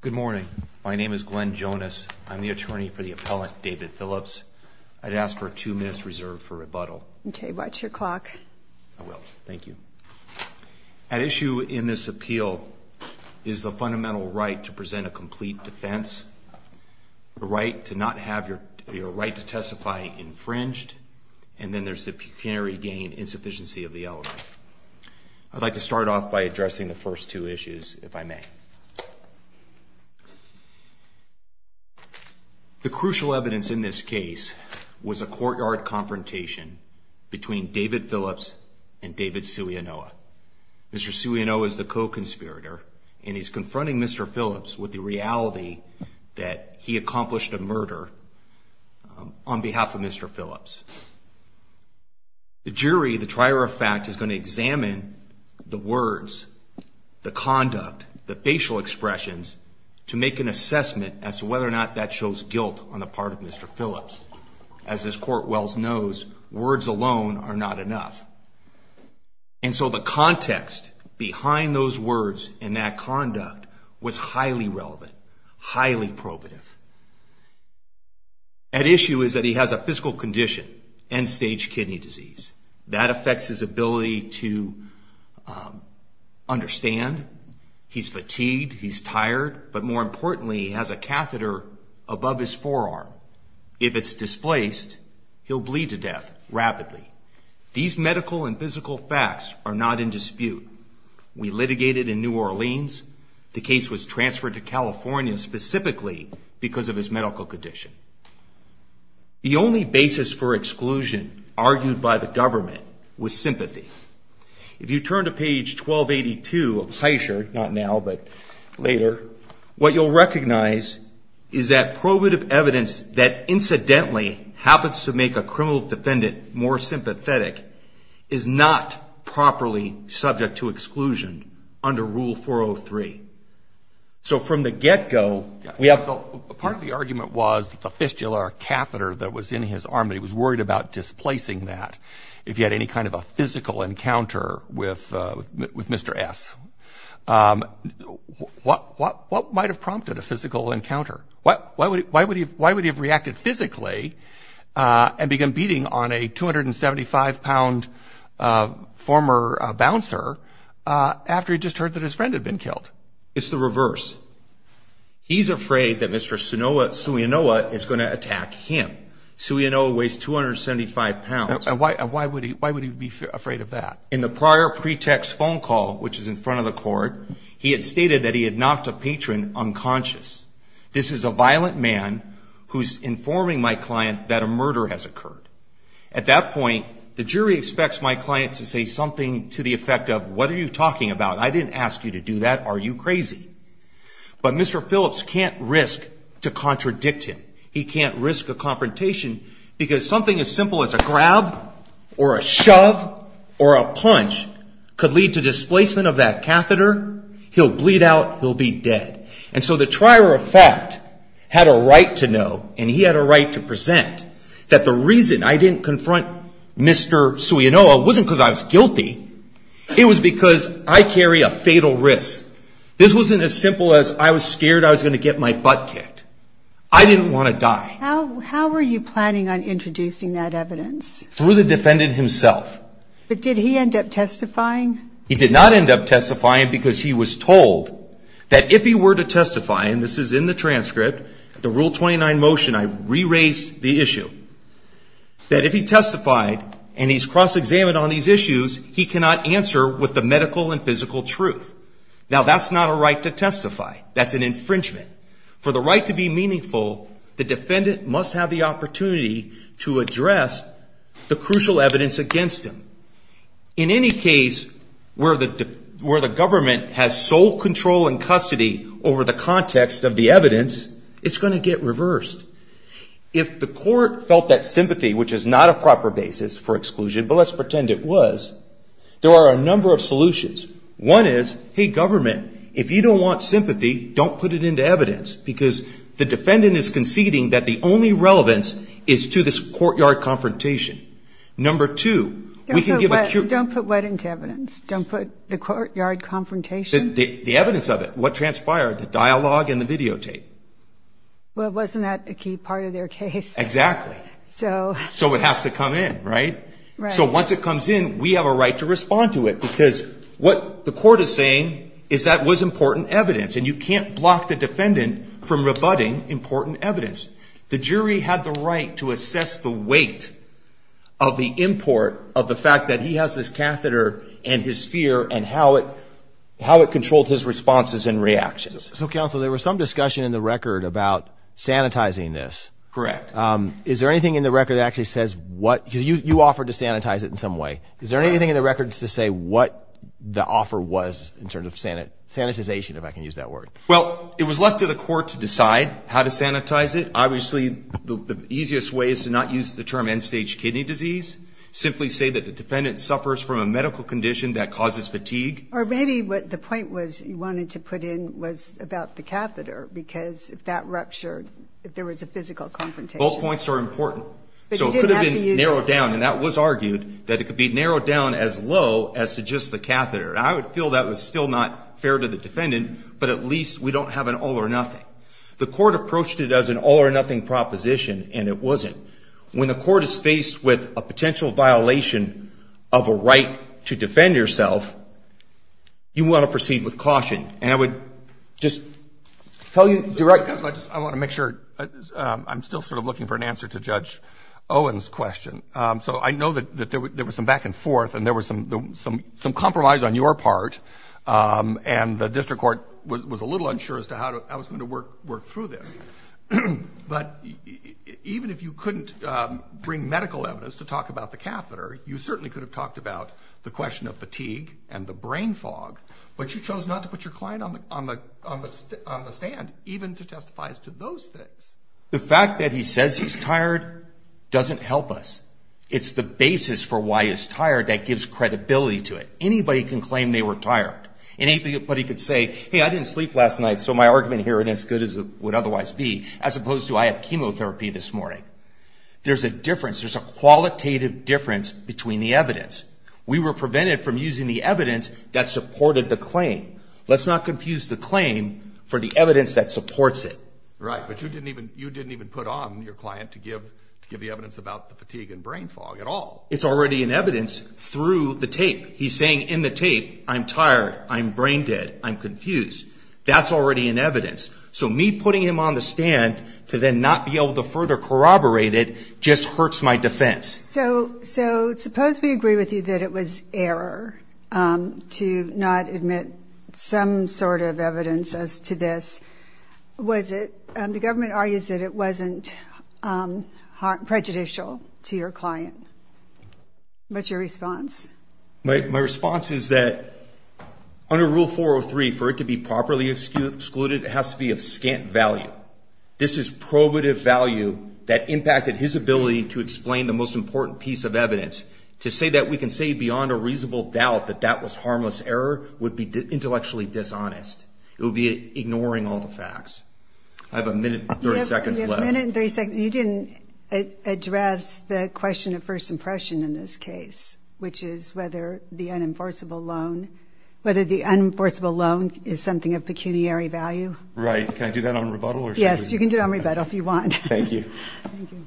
Good morning. My name is Glenn Jonas. I'm the attorney for the appellant David Phillips. I'd ask for two minutes reserved for rebuttal. Okay. Watch your clock. I will. Thank you. An issue in this appeal is the fundamental right to present a complete defense, the right to not have your right to testify infringed, and then there's the pecuniary gain insufficiency of the element. I'd like to start off by addressing the first two issues, if I may. The crucial evidence in this case was a courtyard confrontation between David Phillips and David Sulianoa. Mr. Sulianoa is the co-conspirator, and he's confronting Mr. Phillips with the reality that he accomplished a murder on behalf of Mr. Phillips. The jury, the trier of fact, is going to examine the words, the conduct, the facial expressions, to make an assessment as to whether or not that shows guilt on the part of Mr. Phillips. As this court well knows, words alone are not enough. And so the context behind those words and that conduct was highly relevant, highly probative. At issue is that he has a physical condition, end-stage kidney disease. That affects his ability to understand. He's fatigued. He's tired. But more importantly, he has a catheter above his forearm. If it's displaced, he'll bleed to death rapidly. These medical and physical facts are not in dispute. We litigated in New Orleans. The case was transferred to California specifically because of his medical condition. The only basis for exclusion argued by the government was sympathy. If you turn to page 1282 of Heischer, not now but later, what you'll recognize is that probative evidence that incidentally happens to make a criminal defendant more sympathetic is not properly subject to exclusion under Rule 403. So from the get-go, we have... Part of the argument was the fistula or catheter that was in his arm. He was worried about displacing that if he had any kind of a physical encounter with Mr. S. What might have prompted a physical encounter? Why would he have reacted physically and begun beating on a 275-pound former bouncer after he'd just heard that his friend had been killed? It's the reverse. He's afraid that Mr. Suenoa is going to attack him. Suenoa weighs 275 pounds. And why would he be afraid of that? In the prior pretext phone call, which is in front of the court, he had stated that he had knocked a patron unconscious. This is a violent man who's informing my client that a murder has occurred. At that point, the jury expects my client to say something to the effect of, what are you talking about? I didn't ask you to do that. Are you crazy? But Mr. Phillips can't risk to contradict him. He can't risk a confrontation because something as simple as a grab or a shove or a punch could lead to displacement of that catheter. He'll bleed out. He'll be dead. And so the trier of fact had a right to know, and he had a right to present, that the reason I didn't confront Mr. Suenoa wasn't because I was guilty. It was because I carry a fatal risk. This wasn't as simple as I was scared I was going to get my butt kicked. I didn't want to die. How were you planning on introducing that evidence? Through the defendant himself. But did he end up testifying? He did not end up testifying because he was told that if he were to testify, and this is in the transcript, the Rule 29 motion, I re-raised the issue, that if he testified and he's cross-examined on these issues, he cannot answer with the medical and physical truth. Now, that's not a right to testify. That's an infringement. For the right to be meaningful, the defendant must have the opportunity to address the crucial evidence against him. In any case where the government has sole control and custody over the context of the evidence, it's going to get reversed. If the court felt that sympathy, which is not a proper basis for exclusion, but let's pretend it was, there are a number of solutions. One is, hey, government, if you don't want sympathy, don't put it into evidence because the defendant is conceding that the only relevance is to this courtyard confrontation. Number two, we can give a… Don't put what into evidence? Don't put the courtyard confrontation? The evidence of it, what transpired, the dialogue and the videotape. Well, wasn't that a key part of their case? Exactly. So… So it has to come in, right? Right. So once it comes in, we have a right to respond to it because what the court is saying is that was important evidence and you can't block the defendant from rebutting important evidence. The jury had the right to assess the weight of the import of the fact that he has this catheter and his fear and how it controlled his responses and reactions. So, counsel, there was some discussion in the record about sanitizing this. Correct. Is there anything in the record that actually says what… Because you offered to sanitize it in some way. Is there anything in the records to say what the offer was in terms of sanitization, if I can use that word? Well, it was left to the court to decide how to sanitize it. Obviously, the easiest way is to not use the term end-stage kidney disease. Simply say that the defendant suffers from a medical condition that causes fatigue. Or maybe what the point was you wanted to put in was about the catheter because if that ruptured, if there was a physical confrontation… Both points are important. But you didn't have to use… So it could have been narrowed down, and that was argued, that it could be narrowed down as low as to just the catheter. I would feel that was still not fair to the defendant, but at least we don't have an all or nothing. The court approached it as an all or nothing proposition, and it wasn't. When the court is faced with a potential violation of a right to defend yourself, you want to proceed with caution. And I would just tell you directly… Counsel, I just want to make sure. I'm still sort of looking for an answer to Judge Owen's question. So I know that there was some back and forth, and there was some compromise on your part, and the district court was a little unsure as to how I was going to work through this. But even if you couldn't bring medical evidence to talk about the catheter, you certainly could have talked about the question of fatigue and the brain fog, but you chose not to put your client on the stand, even to testify as to those things. The fact that he says he's tired doesn't help us. It's the basis for why he's tired that gives credibility to it. Anybody can claim they were tired. Anybody could say, hey, I didn't sleep last night, so my argument here isn't as good as it would otherwise be, as opposed to I had chemotherapy this morning. There's a difference. There's a qualitative difference between the evidence. We were prevented from using the evidence that supported the claim. Let's not confuse the claim for the evidence that supports it. Right, but you didn't even put on your client to give the evidence about the fatigue and brain fog at all. It's already in evidence through the tape. He's saying in the tape, I'm tired, I'm brain dead, I'm confused. That's already in evidence. So me putting him on the stand to then not be able to further corroborate it just hurts my defense. So suppose we agree with you that it was error to not admit some sort of evidence as to this. Was it the government argues that it wasn't prejudicial to your client? What's your response? My response is that under Rule 403, for it to be properly excluded, it has to be of scant value. This is probative value that impacted his ability to explain the most important piece of evidence. To say that we can say beyond a reasonable doubt that that was harmless error would be intellectually dishonest. It would be ignoring all the facts. I have a minute and 30 seconds left. You didn't address the question of first impression in this case, which is whether the unenforceable loan is something of pecuniary value. Right. Can I do that on rebuttal? Yes, you can do it on rebuttal if you want. Thank you. Thank you.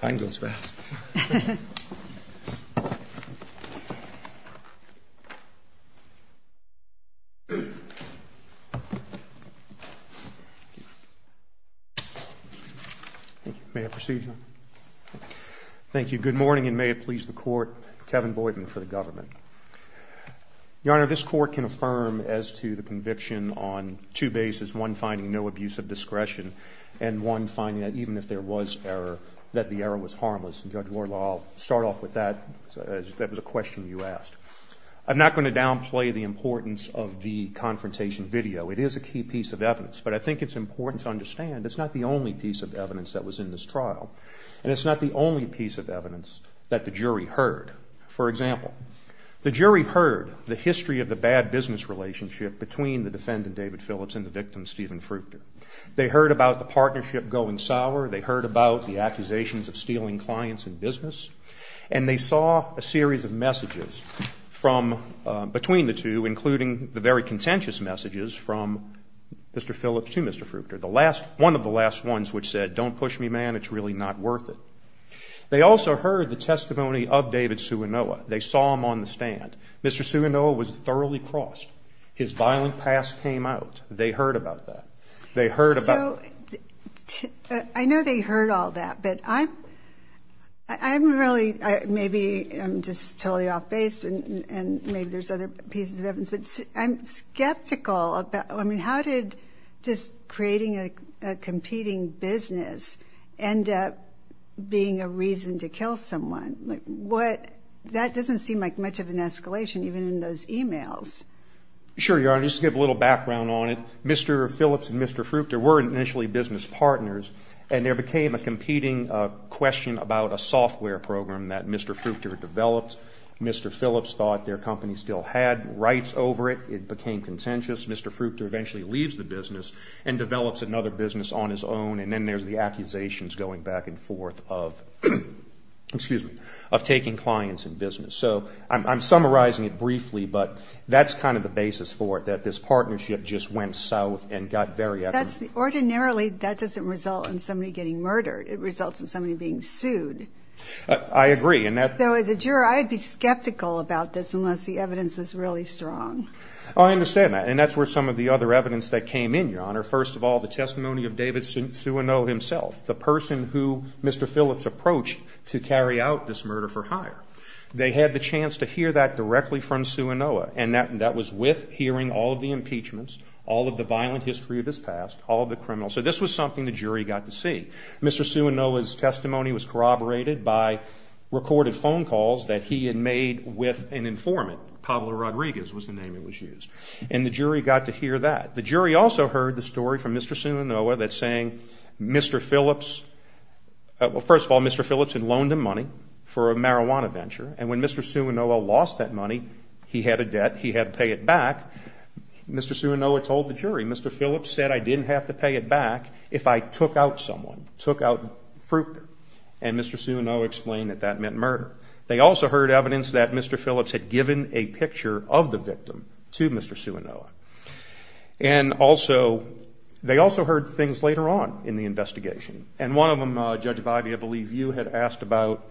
Time goes fast. May I proceed, Your Honor? Thank you. Good morning and may it please the Court, Kevin Boyden for the government. Your Honor, this Court can affirm as to the conviction on two bases, one finding no abuse of discretion and one finding that even if there was error, that the error was harmless. And, Judge Wardlaw, I'll start off with that. That was a question you asked. I'm not going to downplay the importance of the confrontation video. It is a key piece of evidence, but I think it's important to understand it's not the only piece of evidence that was in this trial, and it's not the only piece of evidence that the jury heard. For example, the jury heard the history of the bad business relationship between the defendant, David Phillips, and the victim, Stephen Fruchter. They heard about the partnership going sour. They heard about the accusations of stealing clients and business. And they saw a series of messages between the two, including the very contentious messages from Mr. Phillips to Mr. Fruchter, one of the last ones which said, don't push me, man, it's really not worth it. They also heard the testimony of David Suenoa. They saw him on the stand. Mr. Suenoa was thoroughly crossed. His violent past came out. They heard about that. They heard about that. I know they heard all that, but I'm really maybe just totally off base, and maybe there's other pieces of evidence, but I'm skeptical. I mean, how did just creating a competing business end up being a reason to kill someone? That doesn't seem like much of an escalation, even in those e-mails. Sure, Your Honor, just to give a little background on it, Mr. Phillips and Mr. Fruchter were initially business partners, and there became a competing question about a software program that Mr. Fruchter developed. Mr. Phillips thought their company still had rights over it. It became contentious. Mr. Fruchter eventually leaves the business and develops another business on his own, and then there's the accusations going back and forth of taking clients in business. So I'm summarizing it briefly, but that's kind of the basis for it, that this partnership just went south and got very echoey. Ordinarily, that doesn't result in somebody getting murdered. It results in somebody being sued. I agree. So as a juror, I'd be skeptical about this unless the evidence was really strong. I understand that, and that's where some of the other evidence that came in, Your Honor. First of all, the testimony of David Sueno himself, the person who Mr. Phillips approached to carry out this murder for hire. They had the chance to hear that directly from Suenoa, and that was with hearing all of the impeachments, all of the violent history of his past, all of the criminals. So this was something the jury got to see. Mr. Suenoa's testimony was corroborated by recorded phone calls that he had made with an informant. Pablo Rodriguez was the name that was used. And the jury got to hear that. The jury also heard the story from Mr. Suenoa that's saying Mr. Phillips, well, first of all, Mr. Phillips had loaned him money for a marijuana venture, and when Mr. Suenoa lost that money, he had a debt. He had to pay it back. Mr. Suenoa told the jury, Mr. Phillips said, I didn't have to pay it back if I took out someone, took out Fruchter. And Mr. Suenoa explained that that meant murder. They also heard evidence that Mr. Phillips had given a picture of the victim to Mr. Suenoa. And also, they also heard things later on in the investigation, and one of them, Judge Bidey, I believe you had asked about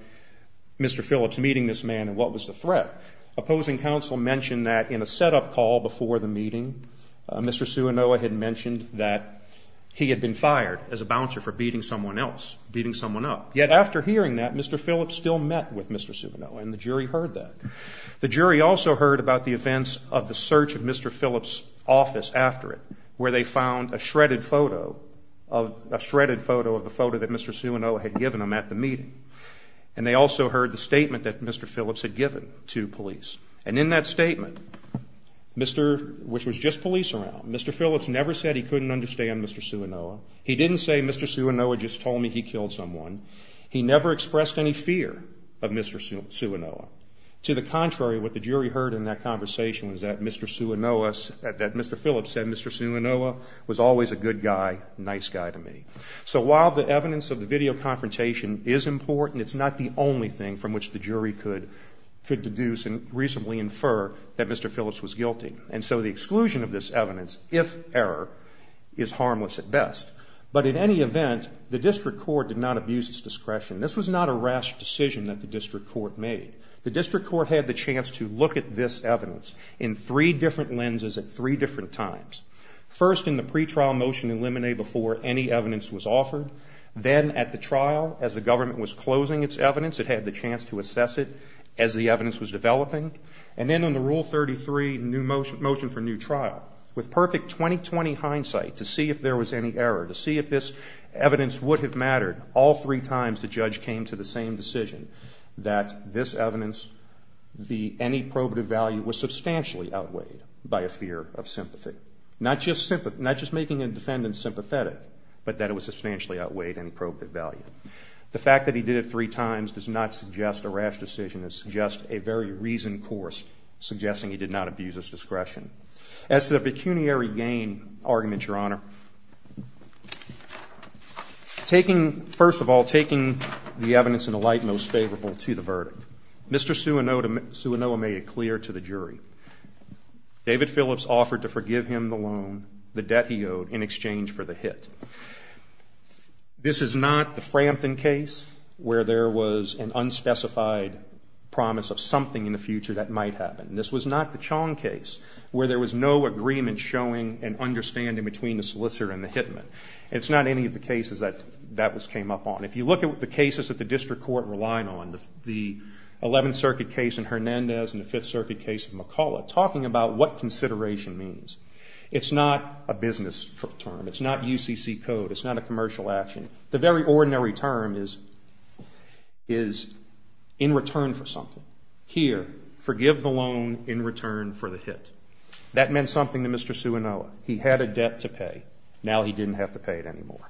Mr. Phillips meeting this man and what was the threat. Opposing counsel mentioned that in a setup call before the meeting, Mr. Suenoa had mentioned that he had been fired as a bouncer for beating someone else, beating someone up. Yet after hearing that, Mr. Phillips still met with Mr. Suenoa, and the jury heard that. The jury also heard about the events of the search of Mr. Phillips' office after it, where they found a shredded photo of the photo that Mr. Suenoa had given him at the meeting. And they also heard the statement that Mr. Phillips had given to police. And in that statement, which was just police around, Mr. Phillips never said he couldn't understand Mr. Suenoa. He didn't say Mr. Suenoa just told me he killed someone. He never expressed any fear of Mr. Suenoa. To the contrary, what the jury heard in that conversation was that Mr. Suenoa, that Mr. Phillips said Mr. Suenoa was always a good guy, nice guy to me. So while the evidence of the video confrontation is important, it's not the only thing from which the jury could deduce and reasonably infer that Mr. Phillips was guilty. And so the exclusion of this evidence, if error, is harmless at best. But in any event, the district court did not abuse its discretion. This was not a rash decision that the district court made. The district court had the chance to look at this evidence in three different lenses at three different times. First, in the pretrial motion in limine before any evidence was offered. Then at the trial, as the government was closing its evidence, it had the chance to assess it as the evidence was developing. And then on the Rule 33 motion for new trial, with perfect 20-20 hindsight, to see if there was any error, to see if this evidence would have mattered, all three times the judge came to the same decision, that this evidence, any probative value, was substantially outweighed by a fear of sympathy. Not just making a defendant sympathetic, but that it was substantially outweighed in probative value. The fact that he did it three times does not suggest a rash decision. It's just a very reasoned course, suggesting he did not abuse his discretion. As to the pecuniary gain argument, Your Honor, first of all, taking the evidence in the light most favorable to the verdict, Mr. Suonoa made it clear to the jury, David Phillips offered to forgive him the loan, the debt he owed, in exchange for the hit. This is not the Frampton case, where there was an unspecified promise of something in the future that might happen. This was not the Chong case, where there was no agreement showing an understanding between the solicitor and the hitman. It's not any of the cases that that came up on. If you look at the cases that the district court relied on, the 11th Circuit case in Hernandez and the 5th Circuit case in McCulloch, talking about what consideration means. It's not a business term. It's not UCC code. It's not a commercial action. The very ordinary term is in return for something. Here, forgive the loan in return for the hit. That meant something to Mr. Suonoa. He had a debt to pay. Now he didn't have to pay it anymore.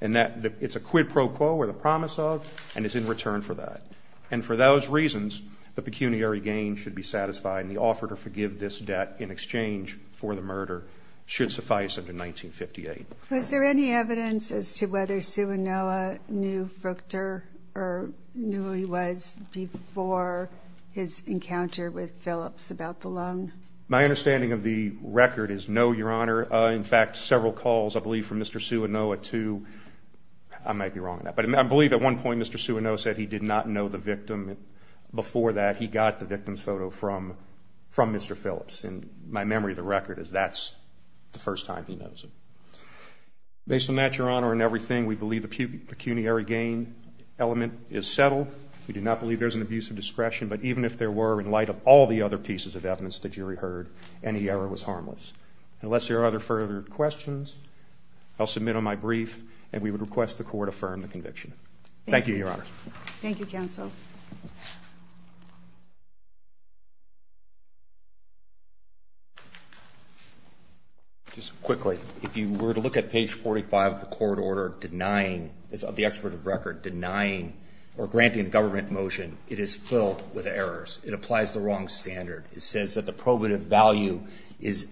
And it's a quid pro quo, or the promise of, and it's in return for that. And for those reasons, the pecuniary gain should be satisfied and the offer to forgive this debt in exchange for the murder should suffice under 1958. Was there any evidence as to whether Suonoa knew Fuchter or knew who he was before his encounter with Phillips about the loan? My understanding of the record is no, Your Honor. In fact, several calls, I believe, from Mr. Suonoa to, I might be wrong on that, but I believe at one point Mr. Suonoa said he did not know the victim. Before that, he got the victim's photo from Mr. Phillips. And my memory of the record is that's the first time he knows him. Based on that, Your Honor, in everything, we believe the pecuniary gain element is settled. We do not believe there's an abuse of discretion, but even if there were in light of all the other pieces of evidence the jury heard, any error was harmless. Unless there are other further questions, I'll submit on my brief, and we would request the Court affirm the conviction. Thank you, Your Honor. Thank you, Counsel. Just quickly, if you were to look at page 45 of the court order denying, of the extraditive record, denying or granting the government motion, it is filled with errors. It applies the wrong standard. It says that the probative value is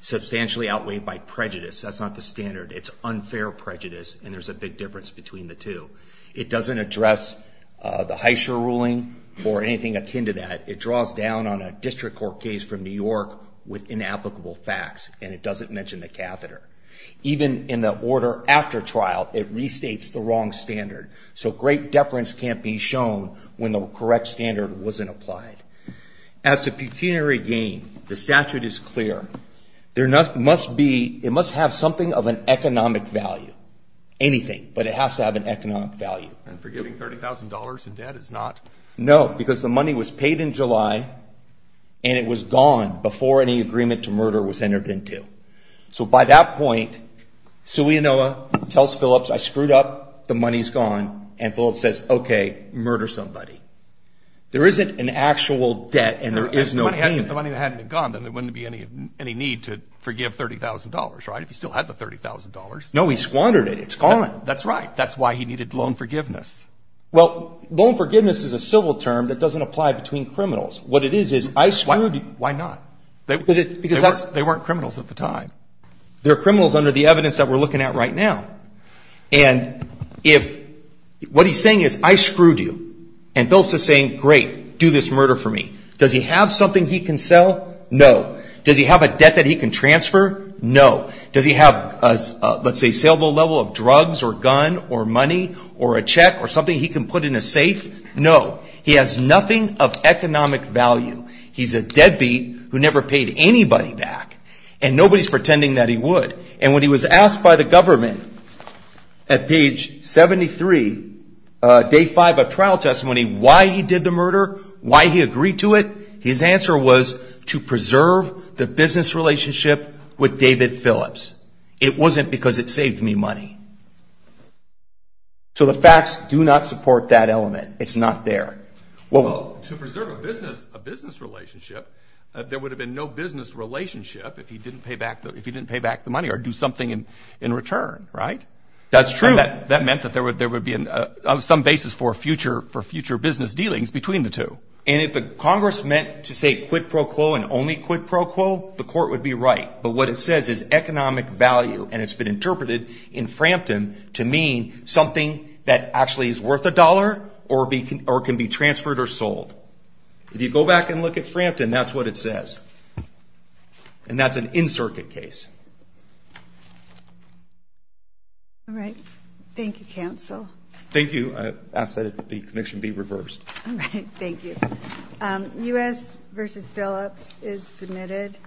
substantially outweighed by prejudice. That's not the standard. It's unfair prejudice, and there's a big difference between the two. It doesn't address the Heischer ruling or anything akin to that. It draws down on a district court case from New York with inapplicable facts, and it doesn't mention the catheter. Even in the order after trial, it restates the wrong standard. So great deference can't be shown when the correct standard wasn't applied. As to pecuniary gain, the statute is clear. It must have something of an economic value, anything, but it has to have an economic value. And forgiving $30,000 in debt is not? No, because the money was paid in July, and it was gone before any agreement to murder was entered into. So by that point, Selena tells Phillips, I screwed up, the money's gone, and Phillips says, okay, murder somebody. There isn't an actual debt, and there is no payment. If the money hadn't gone, then there wouldn't be any need to forgive $30,000, right, if you still had the $30,000? No, he squandered it. It's gone. That's right. That's why he needed loan forgiveness. Well, loan forgiveness is a civil term that doesn't apply between criminals. What it is is I screwed you. Why not? Because they weren't criminals at the time. They're criminals under the evidence that we're looking at right now. And what he's saying is I screwed you, and Phillips is saying, great, do this murder for me. Does he have something he can sell? No. Does he have a debt that he can transfer? No. Does he have a, let's say, saleable level of drugs or gun or money or a check or something he can put in a safe? No. He has nothing of economic value. He's a deadbeat who never paid anybody back, and nobody's pretending that he would. And when he was asked by the government at page 73, day 5 of trial testimony, why he did the murder, why he agreed to it, his answer was to preserve the business relationship with David Phillips. It wasn't because it saved me money. So the facts do not support that element. It's not there. Well, to preserve a business relationship, there would have been no business relationship if he didn't pay back the money or do something in return, right? That's true. And that meant that there would be some basis for future business dealings between the two. And if the Congress meant to say quid pro quo and only quid pro quo, the court would be right. But what it says is economic value, and it's been interpreted in Frampton to mean something that actually is worth a dollar or can be transferred or sold. If you go back and look at Frampton, that's what it says. And that's an in-circuit case. All right. Thank you, counsel. Thank you. I ask that the conviction be reversed. All right. Thank you. U.S. v. Phillips is submitted.